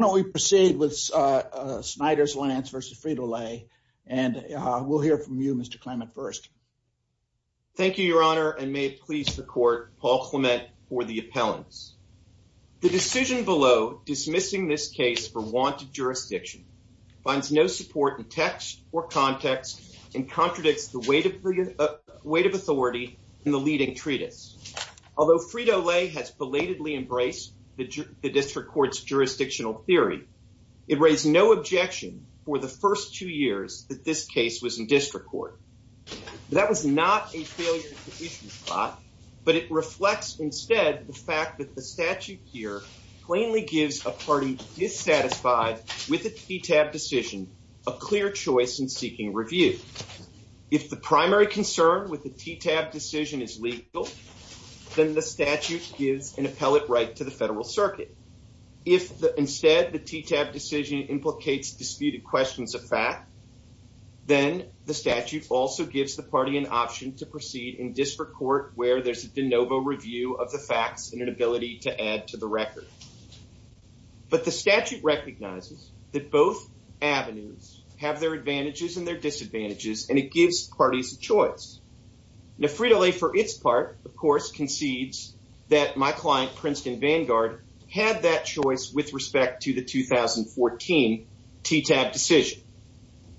Why don't we proceed with Snyder's-Lance v. Frito-Lay, and we'll hear from you, Mr. Clement, first. Thank you, Your Honor, and may it please the Court, Paul Clement for the appellants. The decision below, dismissing this case for wanted jurisdiction, finds no support in text or context and contradicts the weight of authority in the leading treatise. Although Frito-Lay has belatedly embraced the district court's jurisdictional theory, it raised no objection for the first two years that this case was in district court. That was not a failure of the issue plot, but it reflects instead the fact that the statute here plainly gives a party dissatisfied with a TTAB decision a clear choice in seeking review. If the primary concern with the TTAB decision is legal, then the statute gives an appellate right to the federal circuit. If instead the TTAB decision implicates disputed questions of fact, then the statute also gives the party an option to proceed in district court where there's a de novo review of the facts and an ability to add to the record. But the statute recognizes that both avenues have their advantages and their disadvantages and it gives parties a choice. Now Frito-Lay for its part, of course, concedes that my client, Princeton Vanguard, had that choice with respect to the 2014 TTAB decision.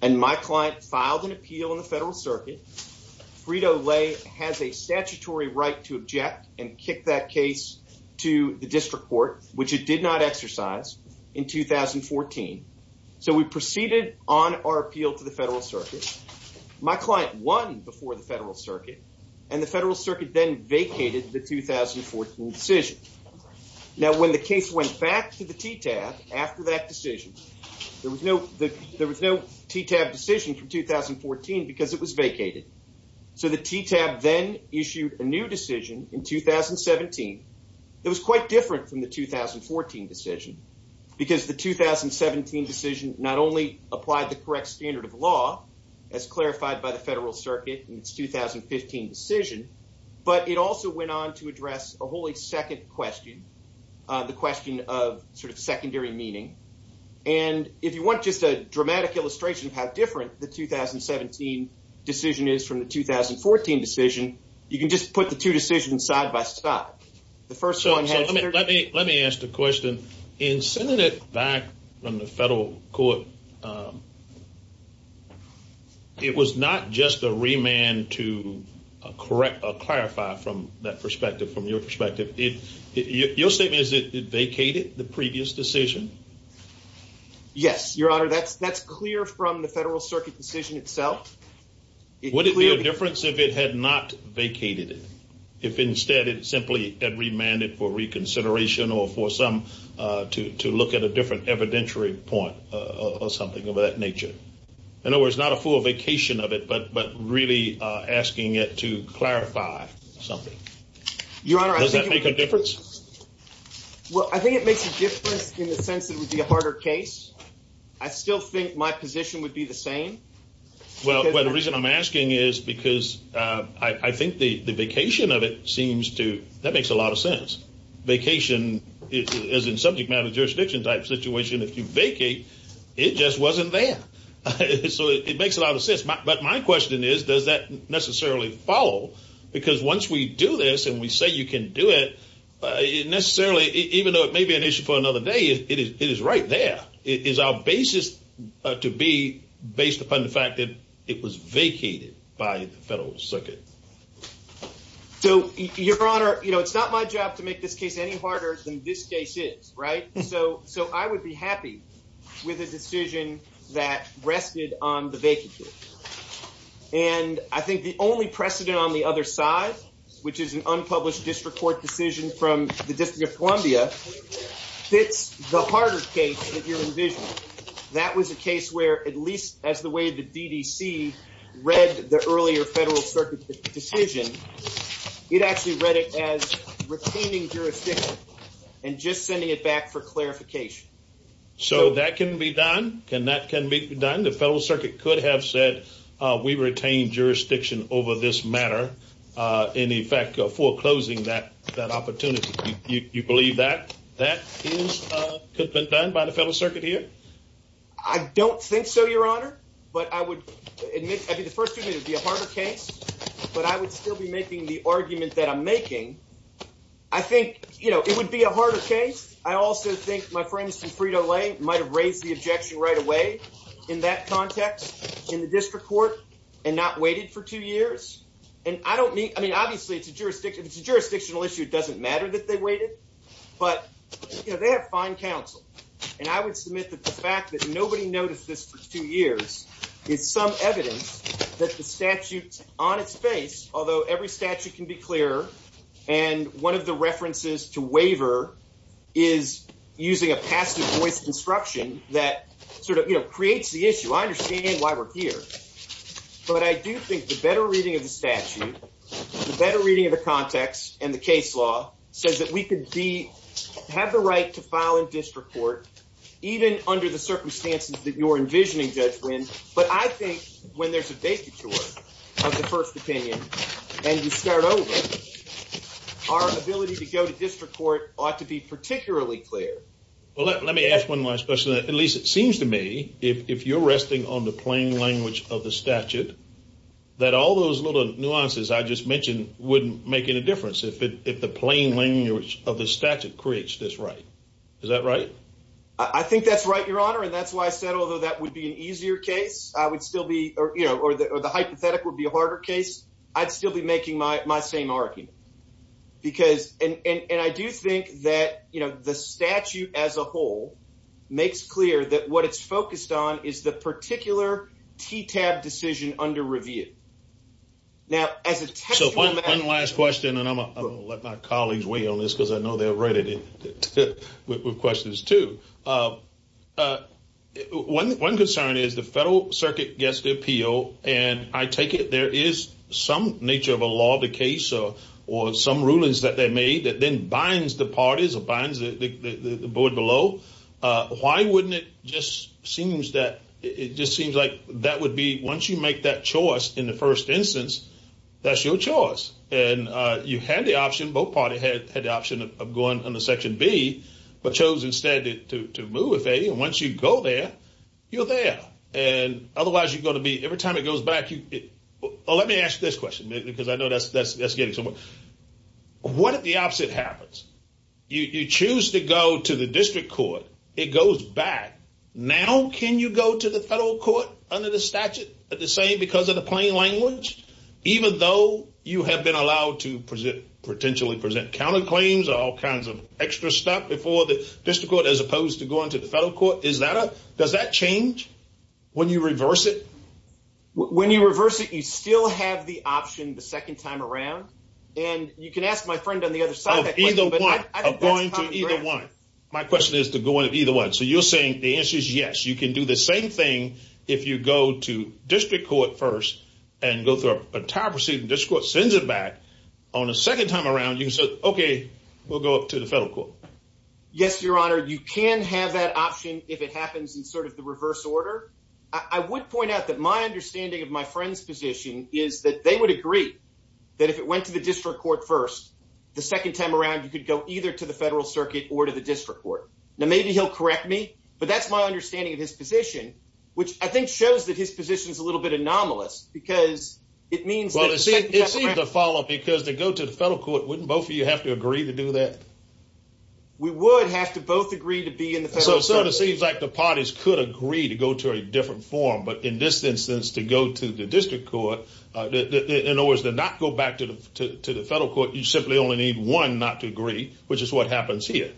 And my client filed an appeal in the federal circuit, Frito-Lay has a statutory right to which it did not exercise in 2014. So we proceeded on our appeal to the federal circuit. My client won before the federal circuit and the federal circuit then vacated the 2014 decision. Now when the case went back to the TTAB after that decision, there was no TTAB decision from 2014 because it was vacated. So the TTAB then issued a new decision in 2017 that was quite different from the 2014 decision because the 2017 decision not only applied the correct standard of law as clarified by the federal circuit in its 2015 decision, but it also went on to address a wholly second question, the question of sort of secondary meaning. And if you want just a dramatic illustration of how different the 2017 decision is from the 2014 decision, you can just put the two decisions side by side. The first one had... So let me ask the question, in sending it back from the federal court, it was not just a remand to correct or clarify from that perspective, from your perspective. Your statement is that it vacated the previous decision? Yes, Your Honor. That's clear from the federal circuit decision itself. Would it be a difference if it had not vacated it? If instead it simply had remanded for reconsideration or for some... to look at a different evidentiary point or something of that nature? In other words, not a full vacation of it, but really asking it to clarify something. Your Honor, I think... Does that make a difference? Well, I think it makes a difference in the sense that it would be a harder case. I still think my position would be the same. Well, the reason I'm asking is because I think the vacation of it seems to... that makes a lot of sense. Vacation as in subject matter jurisdiction type situation, if you vacate, it just wasn't there. So it makes a lot of sense, but my question is, does that necessarily follow? Because once we do this and we say you can do it, necessarily, even though it may be an issue for another day, it is right there. Is our basis to be based upon the fact that it was vacated by the federal circuit? So, Your Honor, it's not my job to make this case any harder than this case is, right? So I would be happy with a decision that rested on the vacancy. And I think the only precedent on the other side, which is an unpublished district court decision from the District of Columbia, fits the harder case that you're envisioning. That was a case where, at least as the way the DDC read the earlier federal circuit decision, it actually read it as retaining jurisdiction and just sending it back for clarification. So that can be done? Can that can be done? The federal circuit could have said, we retain jurisdiction over this matter, in effect foreclosing that opportunity. You believe that that could have been done by the federal circuit here? I don't think so, Your Honor. But I would admit, I'd be the first to admit it would be a harder case. But I would still be making the argument that I'm making. I think, you know, it would be a harder case. I also think my friends from Frito-Lay might have raised the objection right away in that context, in the district court, and not waited for two years. And I don't mean, I mean, obviously, it's a jurisdiction, it's a jurisdictional issue. It doesn't matter that they waited. But, you know, they have fine counsel. And I would submit that the fact that nobody noticed this for two years is some evidence that the statute's on its face, although every statute can be clearer. And one of the references to waiver is using a passive voice disruption that sort of creates the issue. I understand why we're here. But I do think the better reading of the statute, the better reading of the context and the case law says that we could have the right to file in district court, even under the circumstances that you're envisioning, Judge Wynn. But I think when there's a vacuum of the first opinion, and you start over, our ability to go to district court ought to be particularly clear. Well, let me ask one last question, at least it seems to me, if you're resting on the plain language of the statute, that all those little nuances I just mentioned wouldn't make any difference if the plain language of the statute creates this right. I think that's right, Your Honor. And that's why I said, although that would be an easier case, I would still be or the hypothetical would be a harder case. I'd still be making my same argument because and I do think that, you know, the statute as a whole makes clear that what it's focused on is the particular TTAB decision under review. Now, as a last question, and I'm going to let my colleagues weigh in on this because I know they're ready with questions, too. One concern is the federal circuit gets the appeal and I take it there is some nature of a law, the case or some rulings that they made that then binds the parties or binds the board below. Why wouldn't it just seems that it just seems like that would be once you make that choice in the first instance, that's your choice. And you had the option, both party had the option of going on the Section B, but chose instead to move. If once you go there, you're there and otherwise you're going to be every time it goes back. Let me ask this question, because I know that's getting to what if the opposite happens? You choose to go to the district court. It goes back. Now, can you go to the federal court under the statute at the same because of the plain language, even though you have been allowed to present potentially present counterclaims or all kinds of extra stuff before the district court, as opposed to going to the federal court? Is that a does that change when you reverse it? When you reverse it, you still have the option the second time around. And you can ask my friend on the other side of either one of going to either one. My question is to go in either one. So you're saying the answer is yes. You can do the same thing if you go to district court first and go through a time proceeding. This court sends it back on a second time around. You said, OK, we'll go up to the federal court. Yes, your honor. You can have that option if it happens in sort of the reverse order. I would point out that my understanding of my friend's position is that they would agree that if it went to the district court first, the second time around, you could go either to the federal circuit or to the district court. Now, maybe he'll correct me, but that's my understanding of his position, which I think shows that his position is a little bit anomalous because it means that it's the follow up because they go to the federal court. Wouldn't both of you have to agree to do that? We would have to both agree to be in the federal court. So it seems like the parties could agree to go to a different form. But in this instance, to go to the district court in order to not go back to the to the federal court, you simply only need one not to agree, which is what happens here.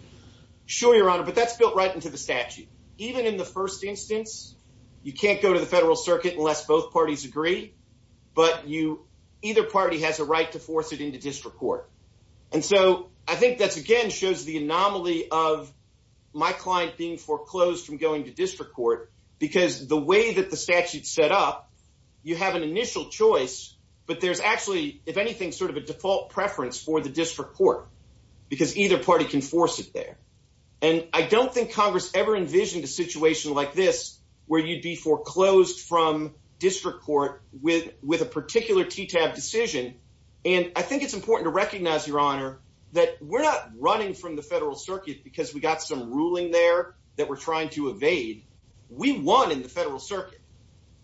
Sure, your honor. But that's built right into the statute. Even in the first instance, you can't go to the federal circuit unless both parties agree. But you either party has a right to force it into district court. And so I think that's, again, shows the anomaly of my client being foreclosed from going to district court because the way that the statute set up, you have an initial choice. But there's actually, if anything, sort of a default preference for the district court because either party can force it there. And I don't think Congress ever envisioned a situation like this where you'd be foreclosed from district court with with a particular TTAB decision. And I think it's important to recognize, your honor, that we're not running from the federal circuit because we got some ruling there that we're trying to evade. We won in the federal circuit.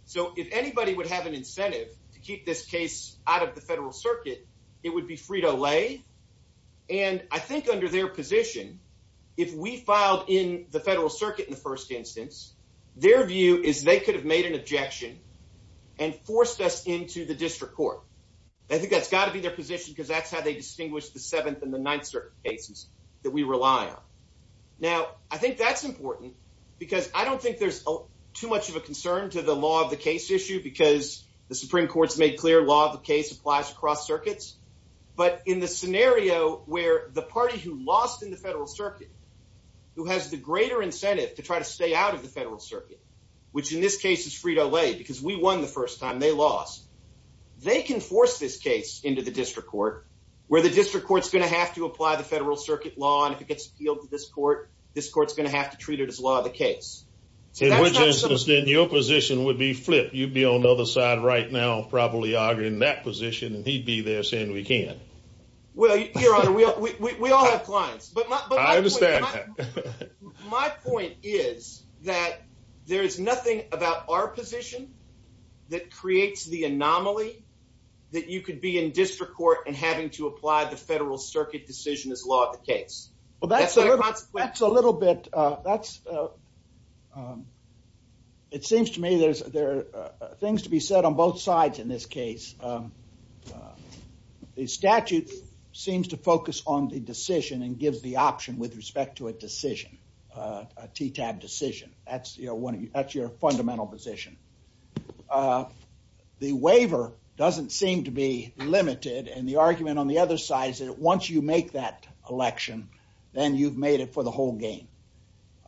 So if anybody would have an incentive to keep this case out of the federal circuit, it and I think under their position, if we filed in the federal circuit in the first instance, their view is they could have made an objection and forced us into the district court. I think that's got to be their position because that's how they distinguish the Seventh and the Ninth Circuit cases that we rely on. Now, I think that's important because I don't think there's too much of a concern to the law of the case issue because the Supreme Court's made clear law of the case applies across circuits. But in the scenario where the party who lost in the federal circuit, who has the greater incentive to try to stay out of the federal circuit, which in this case is Frito-Lay, because we won the first time they lost, they can force this case into the district court where the district court's going to have to apply the federal circuit law. And if it gets appealed to this court, this court's going to have to treat it as law of the case. So in your position would be flipped. You'd be on the other side right now, probably arguing that position, and he'd be there saying we can't. Well, Your Honor, we all have clients, but I understand that my point is that there is nothing about our position that creates the anomaly that you could be in district court and having to apply the federal circuit decision as law of the case. Well, that's a little bit, that's it seems to me there's things to be said on both sides in this case. The statute seems to focus on the decision and gives the option with respect to a decision, a TTAB decision. That's your fundamental position. The waiver doesn't seem to be limited and the argument on the other side is that once you make that election, then you've made it for the whole game.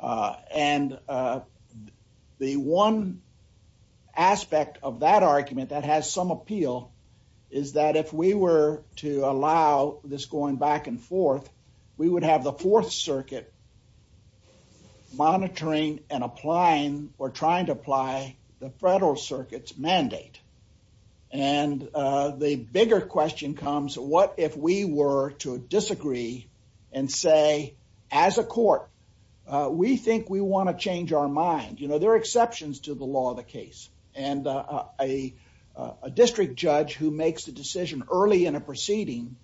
And the one aspect of that argument that has some appeal is that if we were to allow this going back and forth, we would have the fourth circuit monitoring and applying or And the bigger question comes, what if we were to disagree and say, as a court, we think we want to change our mind. You know, there are exceptions to the law of the case and a district judge who makes the decision early in a proceeding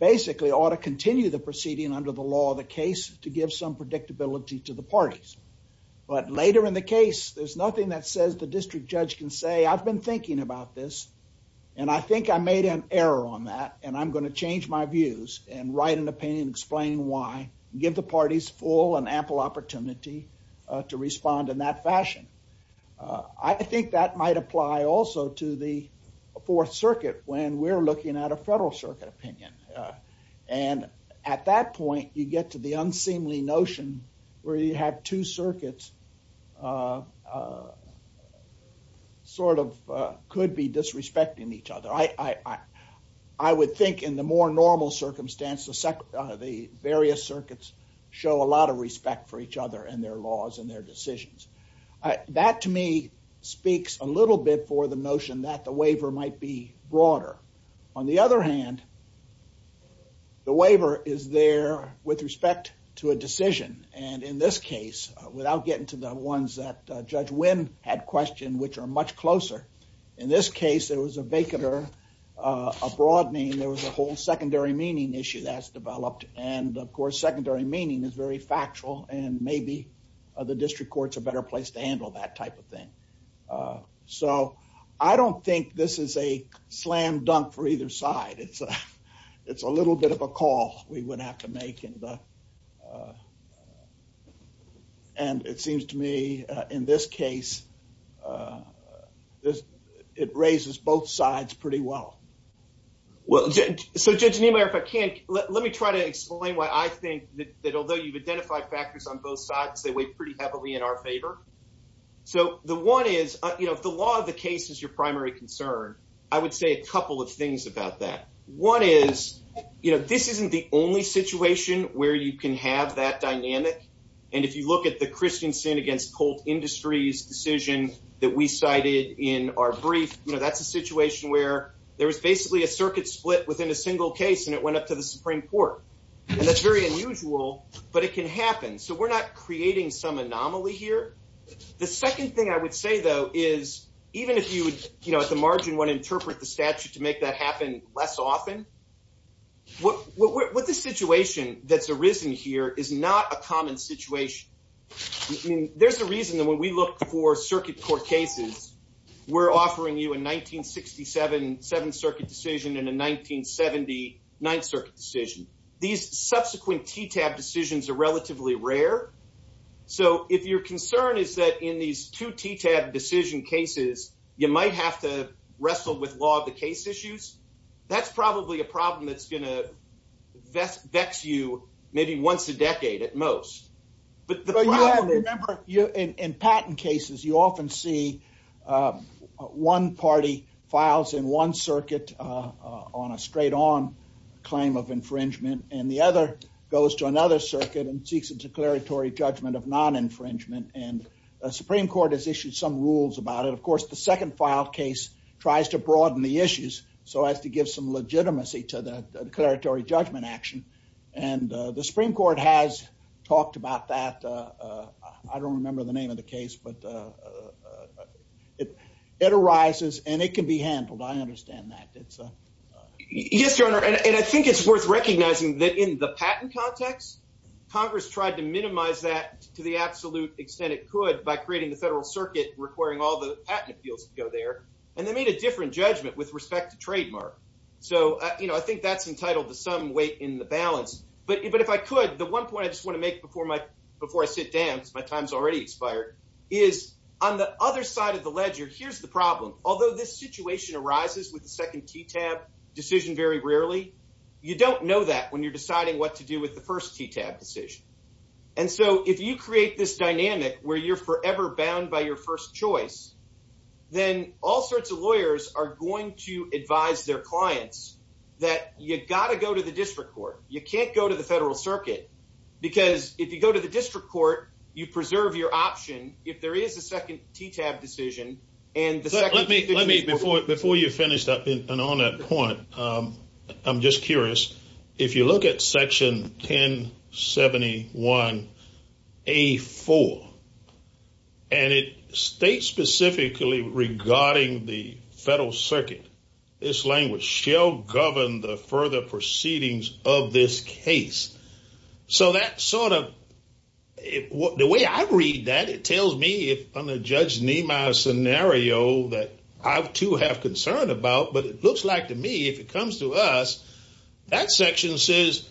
basically ought to continue the proceeding under the law of the case to give some predictability to the parties. But later in the case, there's nothing that says the district judge can say, I've been thinking about this and I think I made an error on that and I'm going to change my views and write an opinion explaining why, give the parties full and ample opportunity to respond in that fashion. I think that might apply also to the fourth circuit when we're looking at a federal circuit opinion. And at that point, you get to the unseemly notion where you have two circuits sort of could be disrespecting each other. I, I, I, I would think in the more normal circumstance, the various circuits show a lot of respect for each other and their laws and their decisions. That to me speaks a little bit for the notion that the waiver might be broader. On the other hand, the waiver is there with respect to a decision. And in this case, without getting to the ones that Judge Wynn had questioned, which are much closer. In this case, there was a vacant or a broad name. There was a whole secondary meaning issue that's developed. And of course, secondary meaning is very factual and maybe the district court's a better place to handle that type of thing. So I don't think this is a slam dunk for either side. It's a, it's a little bit of a call we would have to make. And, and it seems to me in this case, it raises both sides pretty well. Well, so Judge Niemeyer, if I can, let me try to explain why I think that although you've identified factors on both sides, they weigh pretty heavily in our favor. So the one is, you know, if the law of the case is your primary concern, I would say a couple of things about that. One is, you know, this isn't the only situation where you can have that dynamic. And if you look at the Christensen against Colt Industries decision that we cited in our brief, you know, that's a situation where there was basically a circuit split within a single case and it went up to the Supreme Court. And that's very unusual, but it can happen. So we're not creating some anomaly here. The second thing I would say, though, is even if you would, you know, at the margin, want to interpret the statute to make that happen less often, what the situation that's arisen here is not a common situation. There's a reason that when we look for circuit court cases, we're offering you a 1967 Seventh Circuit decision and a 1979th Circuit decision. These subsequent TTAB decisions are relatively rare. So if your concern is that in these two TTAB decision cases, you might have to wrestle with law of the case issues, that's probably a problem that's going to vex you maybe once a decade at most. But remember, in patent cases, you often see one party files in one circuit on a straight on claim of infringement and the other goes to another circuit and seeks a declaratory judgment of non-infringement. And the Supreme Court has issued some rules about it. Of course, the second filed case tries to broaden the issues so as to give some legitimacy to the declaratory judgment action. And the Supreme Court has talked about that. I don't remember the name of the case, but it arises and it can be handled. I understand that. Yes, Your Honor. And I think it's worth recognizing that in the patent context, Congress tried to minimize that to the absolute extent it could by creating the federal circuit requiring all the patent appeals to go there. And they made a different judgment with respect to trademark. So I think that's entitled to some weight in the balance. But if I could, the one point I just want to make before I sit down, because my time's already expired, is on the other side of the ledger, here's the problem. Although this situation arises with the second TTAB decision very rarely, you don't know that when you're deciding what to do with the first TTAB decision. And so if you create this dynamic where you're forever bound by your first choice, then all sorts of lawyers are going to advise their clients that you've got to go to the district court. You can't go to the federal circuit because if you go to the district court, you preserve your option. If there is a second TTAB decision, and the second TTAB decision- Let me, before you finish up and on that point, I'm just curious. If you look at section 1071A4, and it states specifically regarding the federal circuit, this language, shall govern the further proceedings of this case. So that sort of, the way I read that, it tells me if I'm a Judge Nemire scenario that I too have concern about, but it looks like to me, if it comes to us, that section says,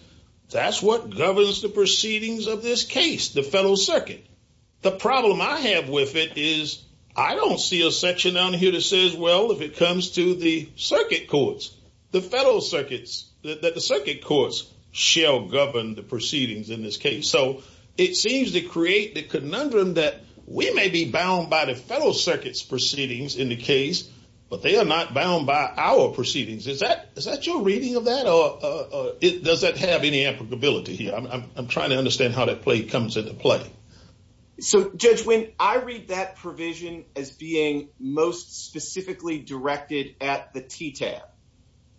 that's what governs the proceedings of this case, the federal circuit. The problem I have with it is, I don't see a section down here that says, well, if it in this case. So it seems to create the conundrum that we may be bound by the federal circuit's proceedings in the case, but they are not bound by our proceedings. Is that your reading of that, or does that have any applicability here? I'm trying to understand how that comes into play. So Judge, when I read that provision as being most specifically directed at the TTAB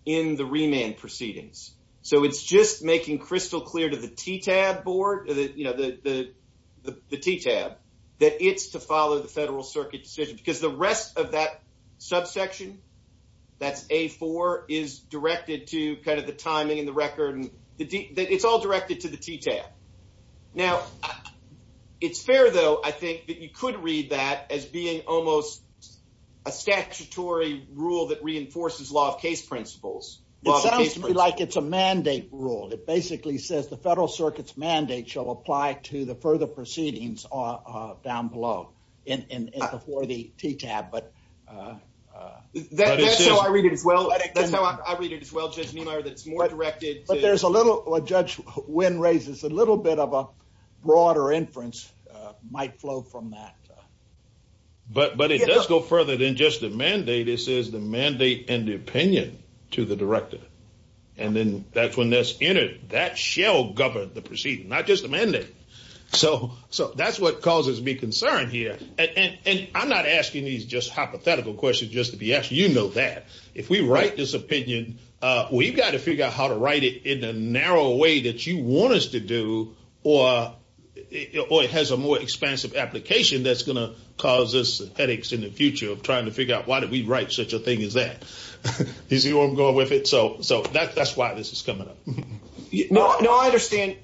in the remand proceedings. So it's just making crystal clear to the TTAB board, the TTAB, that it's to follow the federal circuit decision, because the rest of that subsection, that's A4, is directed to kind of the timing and the record, and it's all directed to the TTAB. Now, it's fair though, I think that you could read that as being almost a statutory rule that reinforces law of case principles. It sounds to me like it's a mandate rule. It basically says the federal circuit's mandate shall apply to the further proceedings down below, and before the TTAB. But that's how I read it as well. That's how I read it as well, Judge Neumeier, that it's more directed. But there's a little, what Judge Wynn raises, a little bit of a broader inference might But it does go further than just a mandate. It says the mandate and the opinion to the director. And then that's when that's entered. That shall govern the proceeding, not just the mandate. So that's what causes me concern here. And I'm not asking these just hypothetical questions just to be asked. You know that. If we write this opinion, we've got to figure out how to write it in the narrow way that you want us to do, or it has a more expansive application that's going to cause us headaches in the future of trying to figure out why did we write such a thing as that. Is he going to go with it? So that's why this is coming up. No, I understand.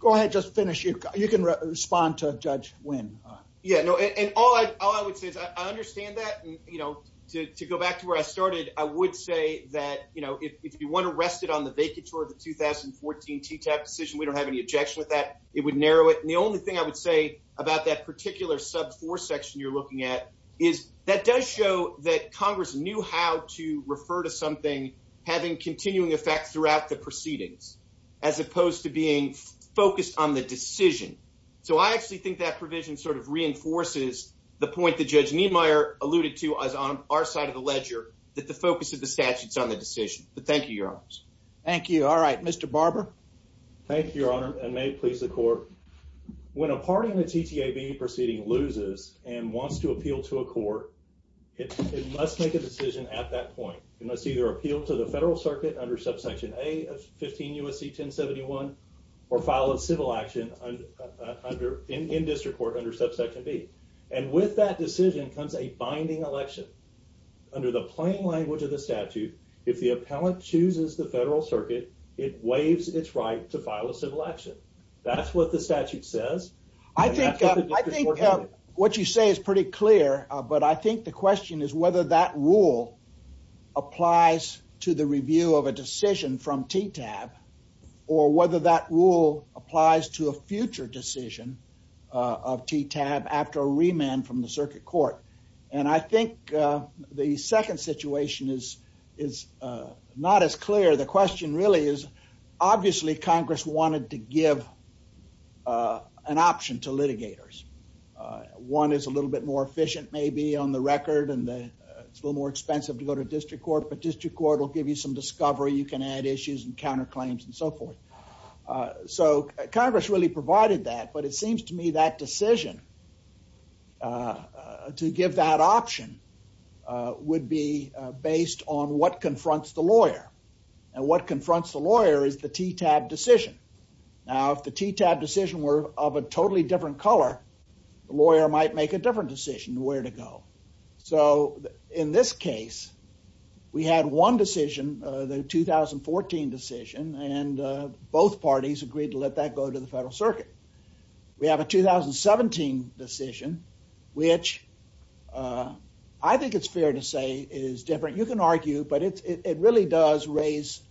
Go ahead. Just finish. You can respond to Judge Wynn. Yeah, no, and all I would say is I understand that. And, you know, to go back to where I started, I would say that, you know, if you want to rest it on the vacatur of the 2014 TTAB decision, we don't have any objection with that. It would narrow it. The only thing I would say about that particular sub four section you're looking at is that does show that Congress knew how to refer to something having continuing effect throughout the proceedings, as opposed to being focused on the decision. So I actually think that provision sort of reinforces the point that Judge Niemeyer alluded to us on our side of the ledger, that the focus of the statutes on the decision. But thank you, Your Honors. Thank you. All right, Mr. Barber. Thank you, Your Honor. And may it please the court. When a party in the TTAB proceeding loses and wants to appeal to a court, it must make a decision at that point. It must either appeal to the federal circuit under subsection A of 15 U.S.C. 1071 or file a civil action in district court under subsection B. And with that decision comes a binding election. Under the plain language of the statute, if the appellant chooses the federal circuit, it waives its right to file a civil action. That's what the statute says. I think what you say is pretty clear. But I think the question is whether that rule applies to the review of a decision from TTAB or whether that rule applies to a future decision of TTAB after a remand from the circuit court. And I think the second situation is not as clear. The question really is, obviously, Congress wanted to give an option to litigators. One is a little bit more efficient, maybe, on the record. And it's a little more expensive to go to district court. But district court will give you some discovery. You can add issues and counterclaims and so forth. So Congress really provided that. But it seems to me that decision to give that option would be based on what confronts the lawyer and what confronts the lawyer is the TTAB decision. Now, if the TTAB decision were of a totally different color, the lawyer might make a different decision where to go. So in this case, we had one decision, the 2014 decision, and both parties agreed to let that go to the federal circuit. We have a 2017 decision, which I think it's fair to say is different. You can argue, but it really does raise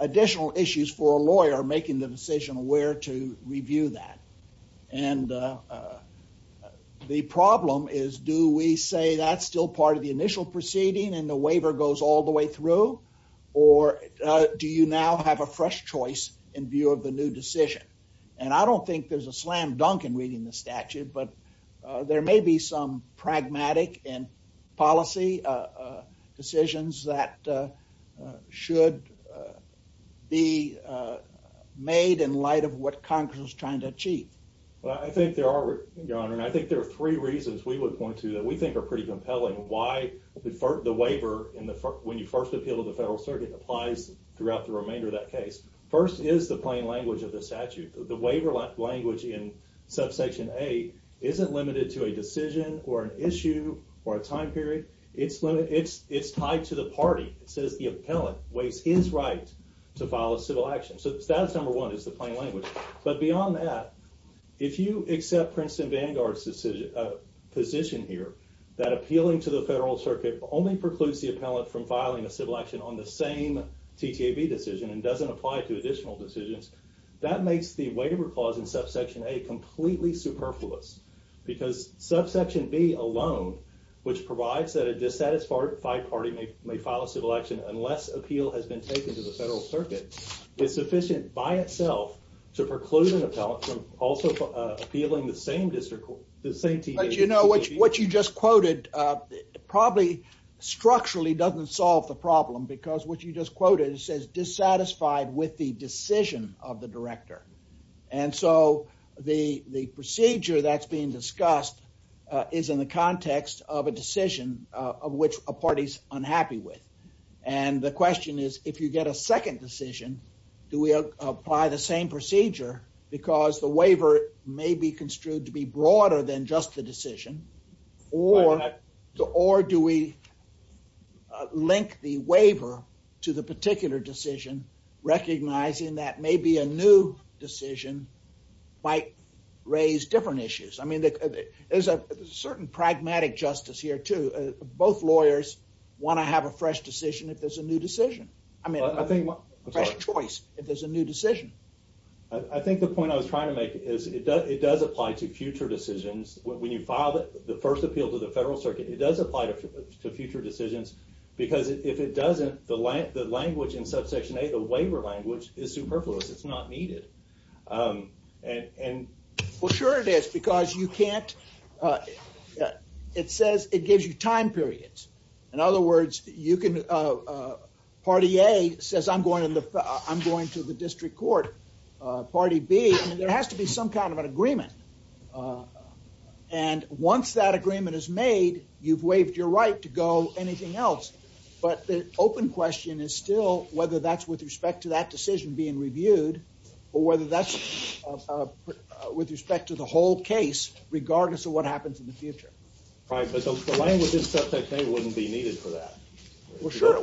additional issues for a lawyer making the decision where to review that. And the problem is, do we say that's still part of the initial proceeding and the waiver goes all the way through? Or do you now have a fresh choice in view of the new decision? And I don't think there's a slam dunk in reading the statute, but there may be some pragmatic and policy decisions that should be made in light of what Congress was trying to achieve. Well, I think there are, Your Honor, and I think there are three reasons we would point to that we think are pretty compelling. Why the waiver, when you first appeal to the federal circuit, applies throughout the remainder of that case. First is the plain language of the statute. The waiver language in subsection A isn't limited to a decision, or an issue, or a time period. It's tied to the party. It says the appellant is right to file a civil action. So status number one is the plain language. But beyond that, if you accept Princeton Vanguard's position here, that appealing to the federal circuit only precludes the appellant from filing a civil action on the same TTAB decision and doesn't apply to additional decisions, that makes the waiver clause in subsection A completely superfluous. Because subsection B alone, which provides that a dissatisfied party may file a civil action unless appeal has been taken to the federal circuit, is sufficient by itself to preclude an appellant from also appealing the same TTA decision. But you know, what you just quoted probably structurally doesn't solve the problem, because what you just quoted says dissatisfied with the decision of the director. And so the procedure that's being discussed is in the context of a decision of which a party's unhappy with. And the question is, if you get a second decision, do we apply the same procedure? Because the waiver may be construed to be broader than just the decision. Or do we link the waiver to the particular decision, recognizing that maybe a new decision might raise different issues? I mean, there's a certain pragmatic justice here too. Both lawyers want to have a fresh decision if there's a new decision. I mean, a fresh choice if there's a new decision. I think the point I was trying to make is it does apply to future decisions. When you file the first appeal to the federal circuit, it does apply to future decisions. Because if it doesn't, the language in subsection A, the waiver language, is superfluous. It's not needed. And for sure it is, because you can't, it says it gives you time periods. In other words, you can, party A says I'm going to the district court. Party B, there has to be some kind of an agreement. And once that agreement is made, you've waived your right to go anything else. But the open question is still whether that's with respect to that decision being reviewed, or whether that's with respect to the whole case, regardless of what happens in the future. Right, but the language in subsection A wouldn't be needed for that. Well, sure.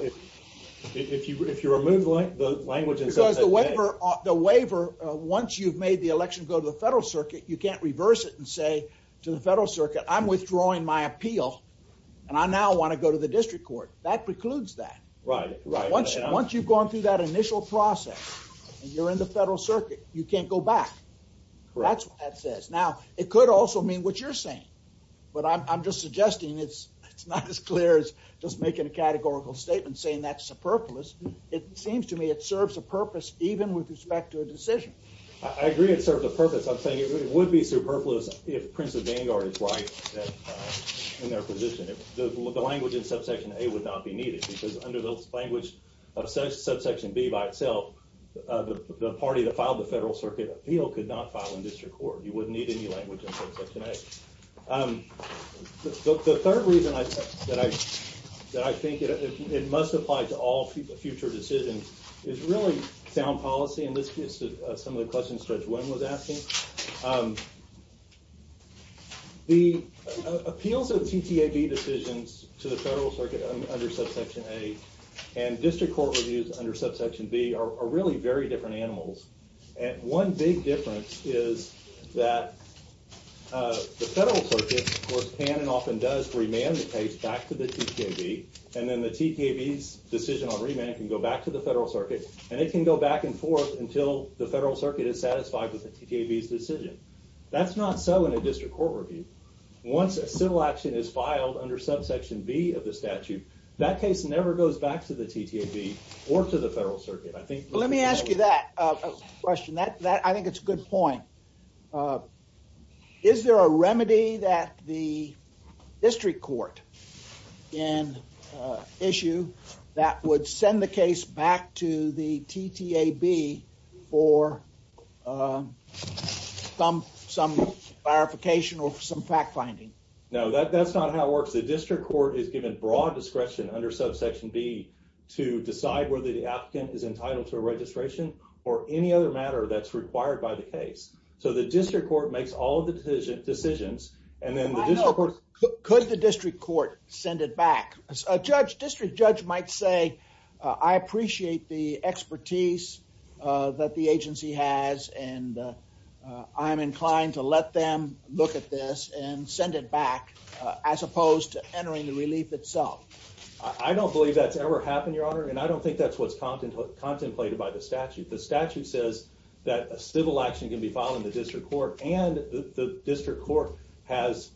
If you remove the language in subsection A. Because the waiver, once you've made the election go to the federal circuit, you can't reverse it and say to the federal circuit, I'm withdrawing my appeal. And I now want to go to the district court. That precludes that. Right, right. Once you've gone through that initial process, and you're in the federal circuit, you can't go back. That's what that says. Now, it could also mean what you're saying. But I'm just suggesting it's not as clear as just making a categorical statement saying that's superfluous. It seems to me it serves a purpose, even with respect to a decision. I agree it serves a purpose. It would be superfluous if Prince of Vanguard is right in their position. If the language in subsection A would not be needed, because under the language of subsection B by itself, the party that filed the federal circuit appeal could not file in district court. You wouldn't need any language in subsection A. The third reason that I think it must apply to all future decisions is really sound policy. And this is some of the questions Judge Wynn was asking. The appeals of TTAB decisions to the federal circuit under subsection A and district court reviews under subsection B are really very different animals. And one big difference is that the federal circuit, of course, can and often does remand the case back to the TTAB. And then the TTAB's decision on remand can go back to the federal circuit. And it can go back and forth until the federal circuit is satisfied with the TTAB's decision. That's not so in a district court review. Once a civil action is filed under subsection B of the statute, that case never goes back to the TTAB or to the federal circuit. I think- Let me ask you that question. I think it's a good point. Is there a remedy that the district court can issue that would send the case back to the TTAB for some clarification or some fact-finding? No, that's not how it works. The district court is given broad discretion under subsection B to decide whether the applicant is entitled to a registration or any other matter that's required by the case. So the district court makes all the decisions. And then the district court- Could the district court send it back? District judge might say, I appreciate the expertise that the agency has. And I'm inclined to let them look at this and send it back as opposed to entering the relief itself. I don't believe that's ever happened, Your Honor. And I don't think that's what's contemplated by the statute. The statute says that a civil action can be filed in the district court. And the district court has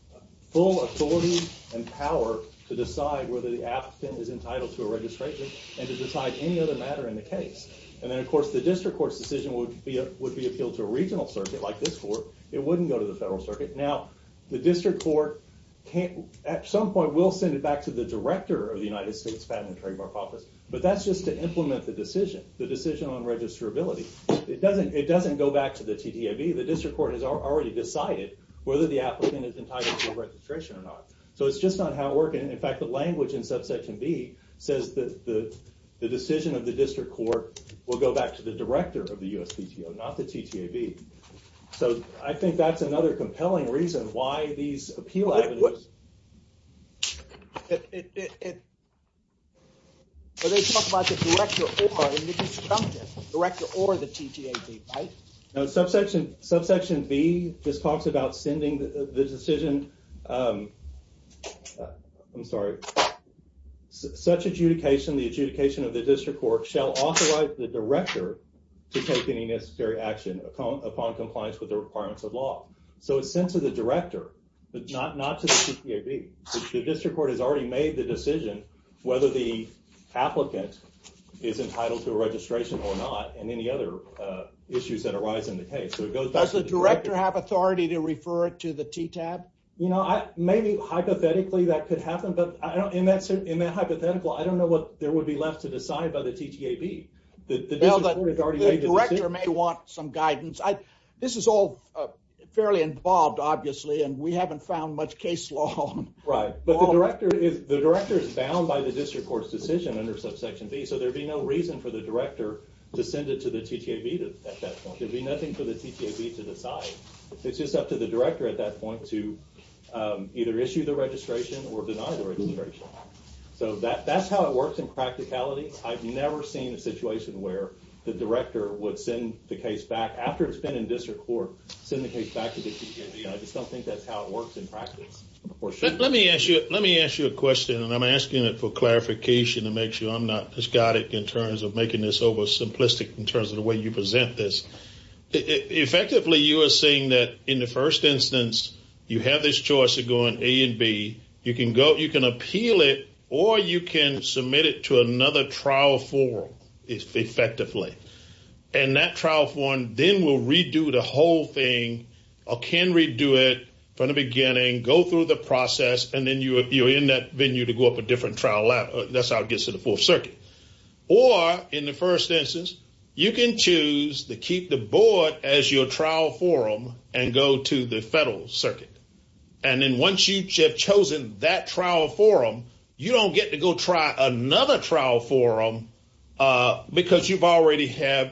full authority and power to decide whether the applicant is entitled to a registration and to decide any other matter in the case. And then, of course, the district court's decision would be appealed to a regional circuit like this court. It wouldn't go to the federal circuit. Now, the district court can't- At some point, we'll send it back to the director of the United States Patent and Trademark Office. But that's just to implement the decision, the decision on registrability. It doesn't go back to the TTAB. The district court has already decided whether the applicant is entitled to a registration or not. So, it's just not how it works. And in fact, the language in subsection B says that the decision of the district court will go back to the director of the USPTO, not the TTAB. So, I think that's another compelling reason why these appeal avenues- What? But they talk about the director or the TTAB, right? No, subsection B just talks about sending the decision I'm sorry. Such adjudication, the adjudication of the district court shall authorize the director to take any necessary action upon compliance with the requirements of law. So, it's sent to the director, but not to the TTAB. The district court has already made the decision whether the applicant is entitled to a registration or not and any other issues that arise in the case. So, it goes back to the director. Does the director have authority to refer it to the TTAB? You know, maybe hypothetically that could happen, but in that hypothetical, I don't know what there would be left to decide by the TTAB. Well, the director may want some guidance. This is all fairly involved, obviously, and we haven't found much case law. Right, but the director is bound by the district court's decision under subsection B, so there'd be no reason for the director to send it to the TTAB at that point. There'd be nothing for the TTAB to decide. It's just up to the director at that point to either issue the registration or deny the registration. So, that's how it works in practicality. I've never seen a situation where the director would send the case back after it's been in district court, send the case back to the TTAB. I just don't think that's how it works in practice. Let me ask you a question, and I'm asking it for clarification to make sure I'm not as got it in terms of making this over simplistic in terms of the way you present this. Effectively, you are saying that in the first instance, you have this choice of going A and B. You can appeal it, or you can submit it to another trial forum effectively. And that trial forum then will redo the whole thing, or can redo it from the beginning, go through the process, and then you're in that venue to go up a different trial lab. That's how it gets to the Fourth Circuit. Or, in the first instance, you can choose to keep the board as your trial forum and go to the federal circuit. And then once you have chosen that trial forum, you don't get to go try another trial forum because you've already had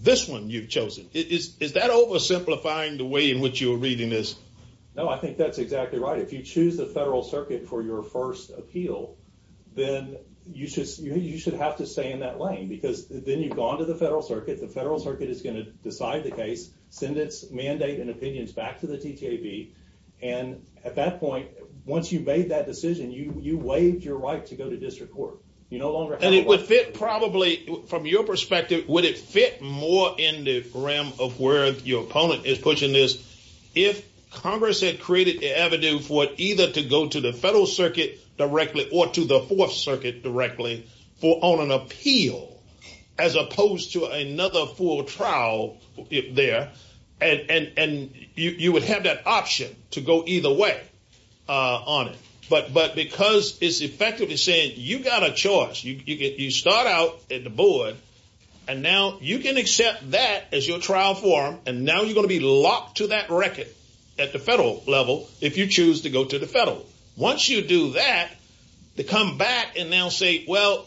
this one you've chosen. Is that over simplifying the way in which you're reading this? No, I think that's exactly right. If you choose the federal circuit for your first appeal, then you should have to stay in that lane because then you've gone to the federal circuit. The federal circuit is going to decide the case, send its mandate and opinions back to the TTAB. And at that point, once you've made that decision, you waived your right to go to district court. You no longer have- And it would fit probably, from your perspective, would it fit more in the realm of where your opponent is pushing this? If Congress had created the avenue for it either to go to the federal circuit directly or to the Fourth Circuit directly for on an appeal, as opposed to another full trial there, and you would have that option to go either way on it. But because it's effectively saying you got a choice, you start out at the board and now you can accept that as your trial form. And now you're going to be locked to that record at the federal level if you choose to go to the federal. Once you do that, to come back and now say, well,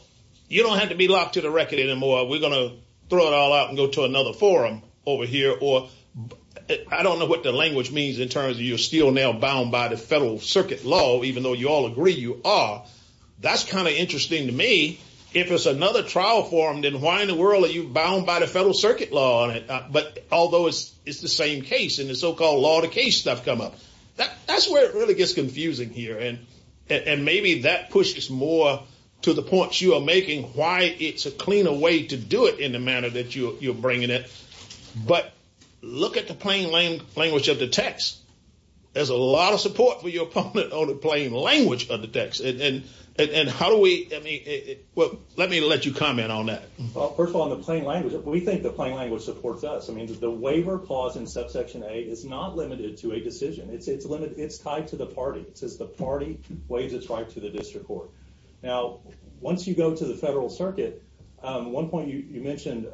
you don't have to be locked to the record anymore. We're going to throw it all out and go to another forum over here. Or I don't know what the language means in terms of you're still now bound by the federal circuit law, even though you all agree you are. That's kind of interesting to me. If it's another trial form, then why in the world are you bound by the federal circuit law on it? But although it's the same case in the so-called law of the case stuff come up, that's where it really gets confusing here. And maybe that pushes more to the points you are making, why it's a cleaner way to do it in the manner that you're bringing it. But look at the plain language of the text. There's a lot of support for your opponent on the plain language of the text. And how do we, I mean, well, let me let you comment on that. Well, first of all, on the plain language, we think the plain language supports us. I mean, the waiver clause in subsection A is not limited to a decision. It's tied to the party. It says the party waives its right to the district court. Now, once you go to the federal circuit, one point you mentioned,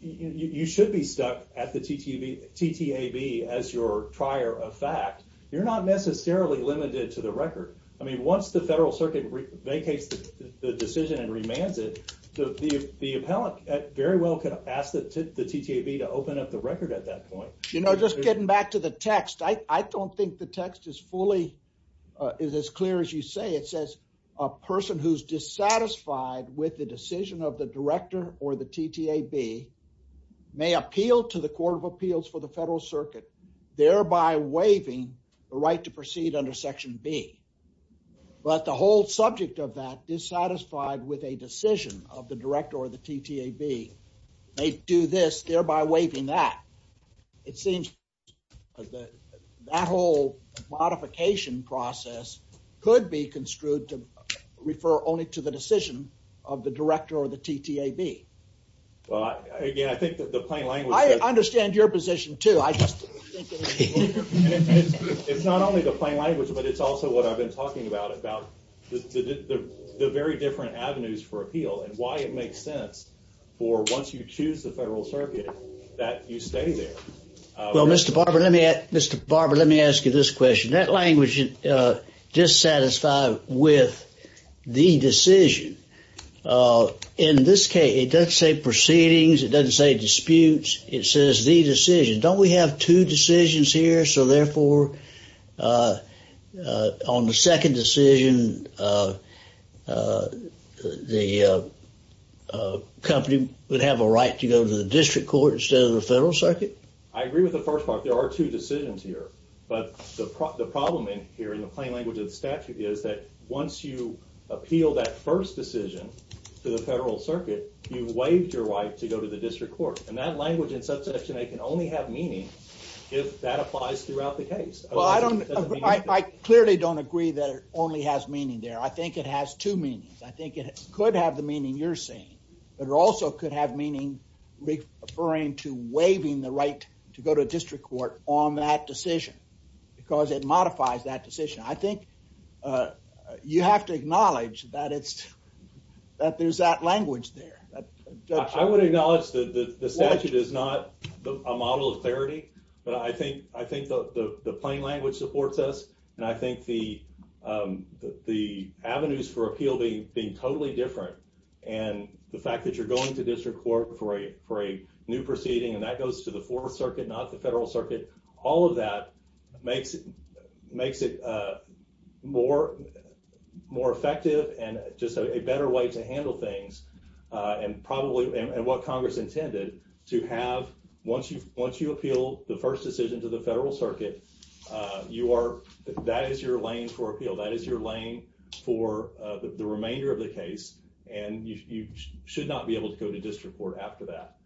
you should be stuck at the TTAB as your trier of fact. You're not necessarily limited to the record. I mean, once the federal circuit vacates the decision and remands it, the appellant very well could ask the TTAB to open up the record at that point. You know, just getting back to the text, I don't think the text is fully, is as clear as you say. It says a person who's dissatisfied with the decision of the director or the TTAB may appeal to the court of appeals for the federal circuit, thereby waiving the right to proceed under section B. But the whole subject of that is satisfied with a decision of the director or the TTAB. They do this, thereby waiving that. It seems that whole modification process could be construed to refer only to the decision of the director or the TTAB. Well, again, I think that the plain language. I understand your position, too. It's not only the plain language, but it's also what I've been talking about, about the very different avenues for appeal and why it makes sense for once you choose the federal circuit that you stay there. Well, Mr. Barber, let me, Mr. Barber, let me ask you this question. That language, dissatisfied with the decision. In this case, it doesn't say proceedings. It doesn't say disputes. It says the decision. Don't we have two decisions here? So therefore, on the second decision, the company would have a right to go to the district court instead of the federal circuit. I agree with the first part. There are two decisions here. But the problem in here in the plain language of the statute is that once you appeal that first decision to the federal circuit, you've waived your right to go to the district court. And that language in subsection A can only have meaning if that applies throughout the case. Well, I don't, I clearly don't agree that it only has meaning there. I think it has two meanings. I think it could have the meaning you're saying, but it also could have meaning referring to waiving the right to go to district court on that decision because it modifies that decision. I think you have to acknowledge that it's, that there's that language there. I would acknowledge that the statute is not a model of clarity, but I think the plain language supports us. And I think the avenues for appeal being totally different and the fact that you're going to district court for a new proceeding and that goes to the fourth circuit, not the federal circuit, all of that makes it more effective and just a better way to handle things and probably, and what Congress intended to have once you appeal the first decision to the federal circuit, you are, that is your lane for appeal. That is your lane for the remainder of the case. And you should not be able to go to district court after that.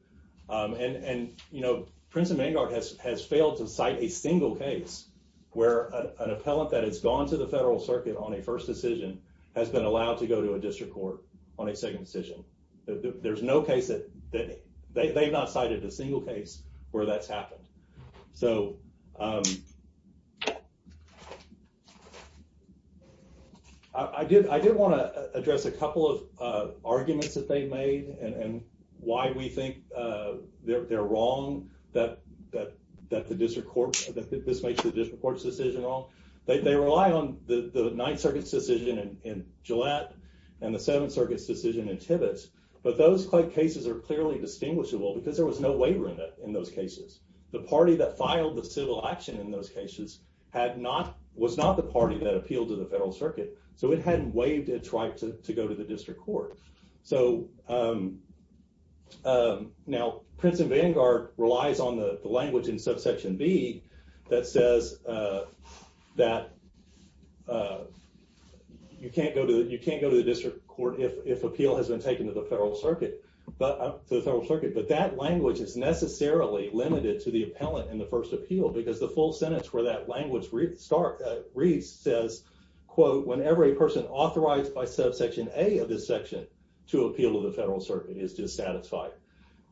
And, you know, Prince and Vanguard has failed to cite a single case where an appellant that has gone to the federal circuit on a first decision has been allowed to go to a district court on a second decision. There's no case that, they've not cited a single case where that's happened. So, I did want to address a couple of arguments that they made and why we think they're wrong that the district court, They rely on the ninth circuit's decision in Gillette and the seventh circuit's decision in Tibbetts, but those cases are clearly distinguishable because there was no waiver in those cases. The party that filed the civil action in those cases had not, was not the party that appealed to the federal circuit. So it hadn't waived its right to go to the district court. So, now Prince and Vanguard relies on the language in subsection B that says that you can't go to the district court if appeal has been taken to the federal circuit, but that language is necessarily limited to the appellant in the first appeal because the full sentence where that language reads says, when every person authorized by subsection A of this section to appeal to the federal circuit is dissatisfied.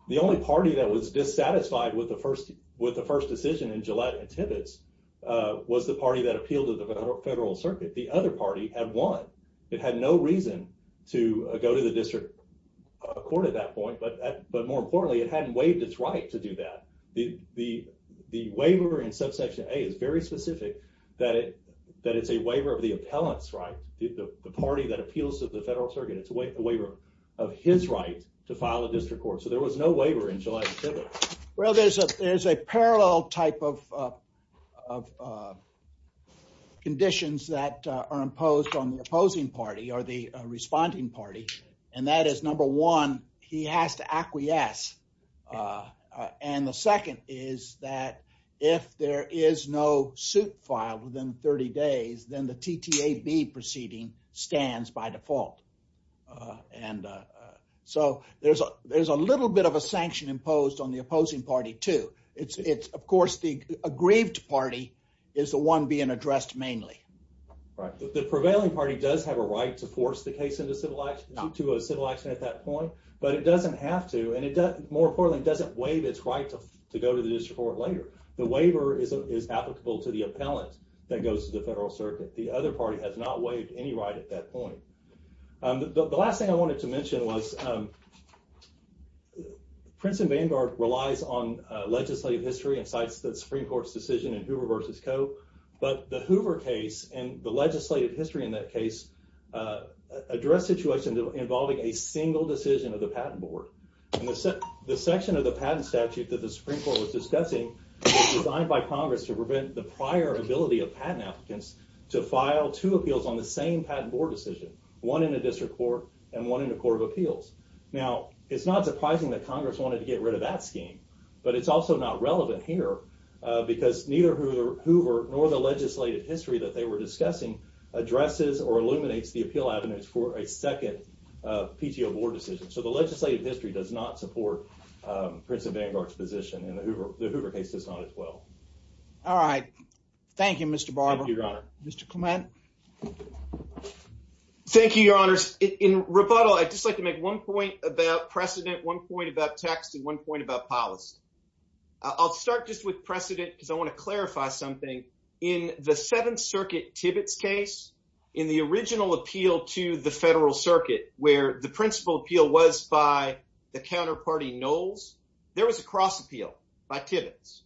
The only party that was dissatisfied with the first decision in Gillette and Tibbetts was the party that appealed to the federal circuit. The other party had won. It had no reason to go to the district court at that point, but more importantly, it hadn't waived its right to do that. The waiver in subsection A is very specific that it's a waiver of the appellant's right. The party that appeals to the federal circuit, it's a waiver of his right to file a district court. So there was no waiver in Gillette and Tibbetts. Well, there's a parallel type of conditions that are imposed on the opposing party or the responding party. And that is number one, he has to acquiesce. And the second is that if there is no suit filed within 30 days, then the TTAB proceeding stands by default. So there's a little bit of a sanction imposed on the opposing party too. It's of course, the aggrieved party is the one being addressed mainly. Right. The prevailing party does have a right to force the case into a civil action at that point, but it doesn't have to. And more importantly, it doesn't waive its right to go to the district court later. The waiver is applicable to the appellant that goes to the federal circuit. The other party has not waived any right at that point. The last thing I wanted to mention was that Prince and Vanguard relies on legislative history and cites the Supreme Court's decision in Hoover versus Coe. But the Hoover case and the legislative history in that case address situations involving a single decision of the patent board. And the section of the patent statute that the Supreme Court was discussing was designed by Congress to prevent the prior ability of patent applicants to file two appeals on the same patent board decision, one in a district court and one in a court of appeals. Now, it's not surprising that Congress wanted to get rid of that scheme, but it's also not relevant here because neither Hoover nor the legislative history that they were discussing addresses or illuminates the appeal avenues for a second PTO board decision. So the legislative history does not support Prince and Vanguard's position in the Hoover case does not as well. All right. Thank you, Mr. Barber. Thank you, Your Honor. Mr. Clement. Thank you, Your Honors. In rebuttal, I'd just like to make one point about precedent, one point about text and one point about policy. I'll start just with precedent because I want to clarify something. In the Seventh Circuit Tibbetts case, in the original appeal to the Federal Circuit where the principal appeal was by the counterparty Knowles, there was a cross appeal by Tibbetts.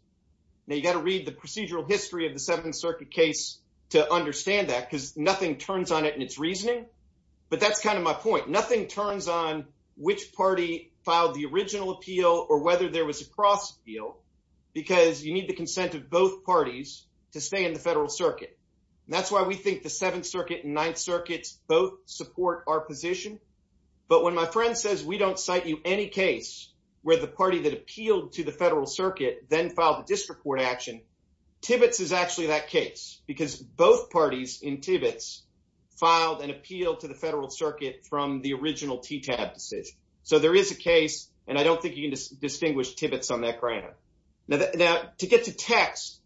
Now, you got to read the procedural history of the Seventh Circuit case to understand that because nothing turns on it in its reasoning. But that's kind of my point. Nothing turns on which party filed the original appeal or whether there was a cross appeal because you need the consent of both parties to stay in the Federal Circuit. And that's why we think the Seventh Circuit and Ninth Circuits both support our position. But when my friend says we don't cite you any case where the party that appealed to the Federal Circuit then filed a disreport action, Tibbetts is actually that case because both parties in Tibbetts filed an appeal to the Federal Circuit from the original TTAB decision. So there is a case and I don't think you can distinguish Tibbetts on that ground. Now, to get to text,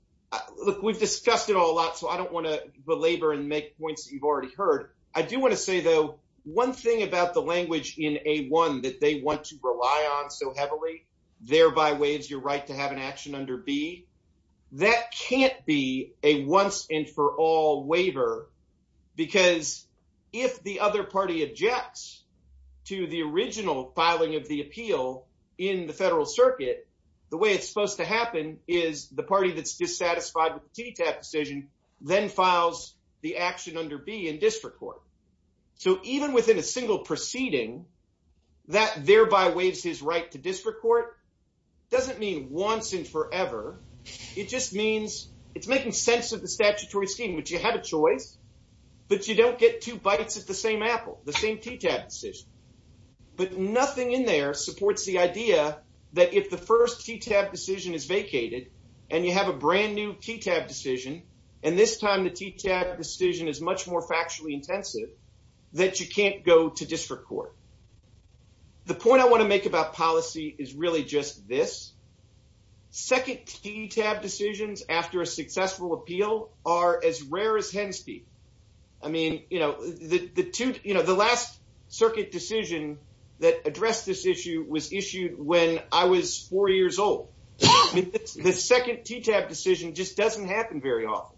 look, we've discussed it all a lot. So I don't want to belabor and make points that you've already heard. I do want to say, though, one thing about the language in A1 that they want to rely on so heavily, thereby waives your right to have an action under B, that can't be a once and for all waiver because if the other party objects to the original filing of the appeal in the Federal Circuit, the way it's supposed to happen is the party that's dissatisfied with the TTAB decision then files the action under B in district court. So even within a single proceeding, that thereby waives his right to district court doesn't mean once and forever. It just means it's making sense of the statutory scheme, which you have a choice, but you don't get two bites at the same apple, the same TTAB decision. But nothing in there supports the idea that if the first TTAB decision is vacated and you have a brand new TTAB decision, and this time the TTAB decision is much more factually intensive, that you can't go to district court. The point I want to make about policy is really just this. Second TTAB decisions after a successful appeal are as rare as hen's feet. I mean, the last circuit decision that addressed this issue was issued when I was four years old. The second TTAB decision just doesn't happen very often.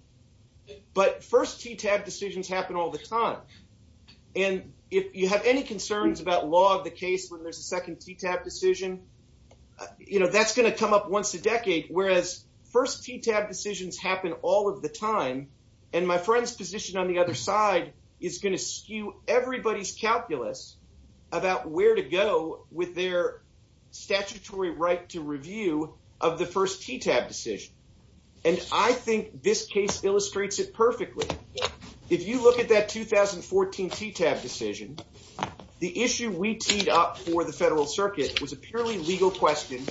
But first TTAB decisions happen all the time. And if you have any concerns about law of the case when there's a second TTAB decision, that's going to come up once a decade. Whereas first TTAB decisions happen all of the time. And my friend's position on the other side is going to skew everybody's calculus about where to go with their statutory right to review of the first TTAB decision. And I think this case illustrates it perfectly. If you look at that 2014 TTAB decision, the issue we teed up for the federal circuit was a purely legal question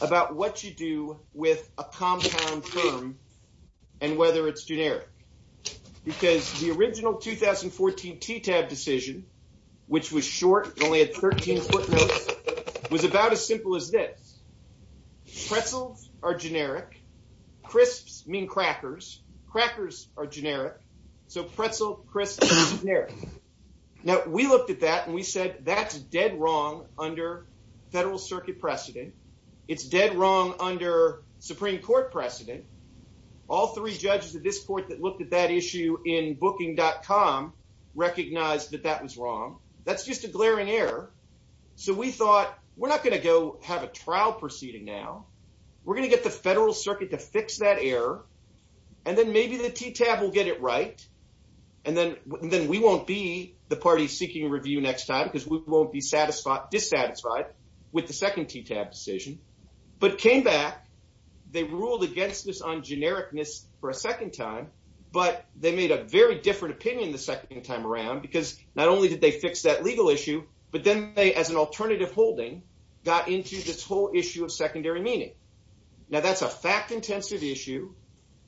about what you do with a compound term and whether it's generic. Because the original 2014 TTAB decision, which was short, only had 13 footnotes, was about as simple as this. Pretzels are generic. Crisps mean crackers. Crackers are generic. So pretzel, crisp, generic. Now we looked at that and we said that's dead wrong under federal circuit precedent. It's dead wrong under Supreme Court precedent. All three judges of this court that looked at that issue in booking.com recognized that that was wrong. That's just a glaring error. So we thought we're not going to go have a trial proceeding now. We're going to get the federal circuit to fix that error. And then maybe the TTAB will get it right. And then we won't be the party seeking review next time because we won't be dissatisfied with the second TTAB decision. But came back, they ruled against this on genericness for a second time, but they made a very different opinion the second time around because not only did they fix that legal issue, but then they, as an alternative holding, got into this whole issue of secondary meaning. Now that's a fact-intensive issue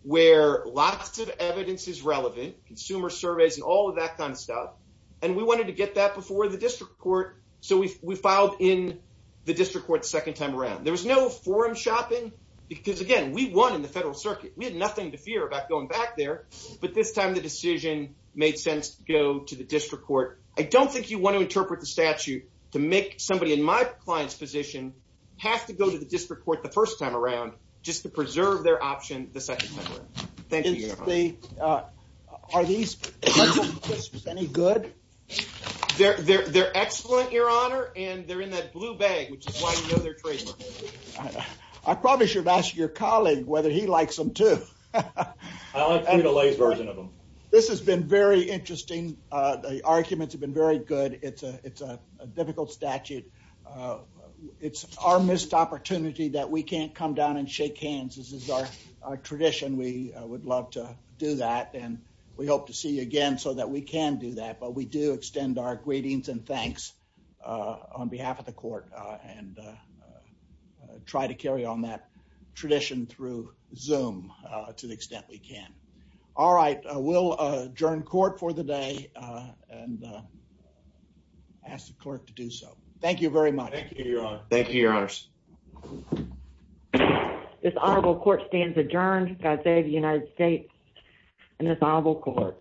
where lots of evidence is relevant, consumer surveys and all of that kind of stuff. And we wanted to get that before the district court. So we filed in the district court the second time around. There was no forum shopping because, again, we won in the federal circuit. We had nothing to fear about going back there. But this time the decision made sense to go to the district court. I don't think you want to interpret the statute to make somebody in my client's position have to go to the district court the first time around just to preserve their option the second time around. Thank you. Are these any good? They're excellent, Your Honor, and they're in that blue bag, which is why you know they're trademarked. I probably should ask your colleague whether he likes them too. I like the delays version of them. This has been very interesting. The arguments have been very good. It's a difficult statute. It's our missed opportunity that we can't come down and shake hands. This is our tradition. We would love to do that and we hope to see you again so that we can do that. We do extend our greetings and thanks on behalf of the court and try to carry on that tradition through Zoom to the extent we can. All right. We'll adjourn court for the day and ask the clerk to do so. Thank you very much. Thank you, Your Honor. Thank you, Your Honors. This honorable court stands adjourned. God save the United States and this honorable court.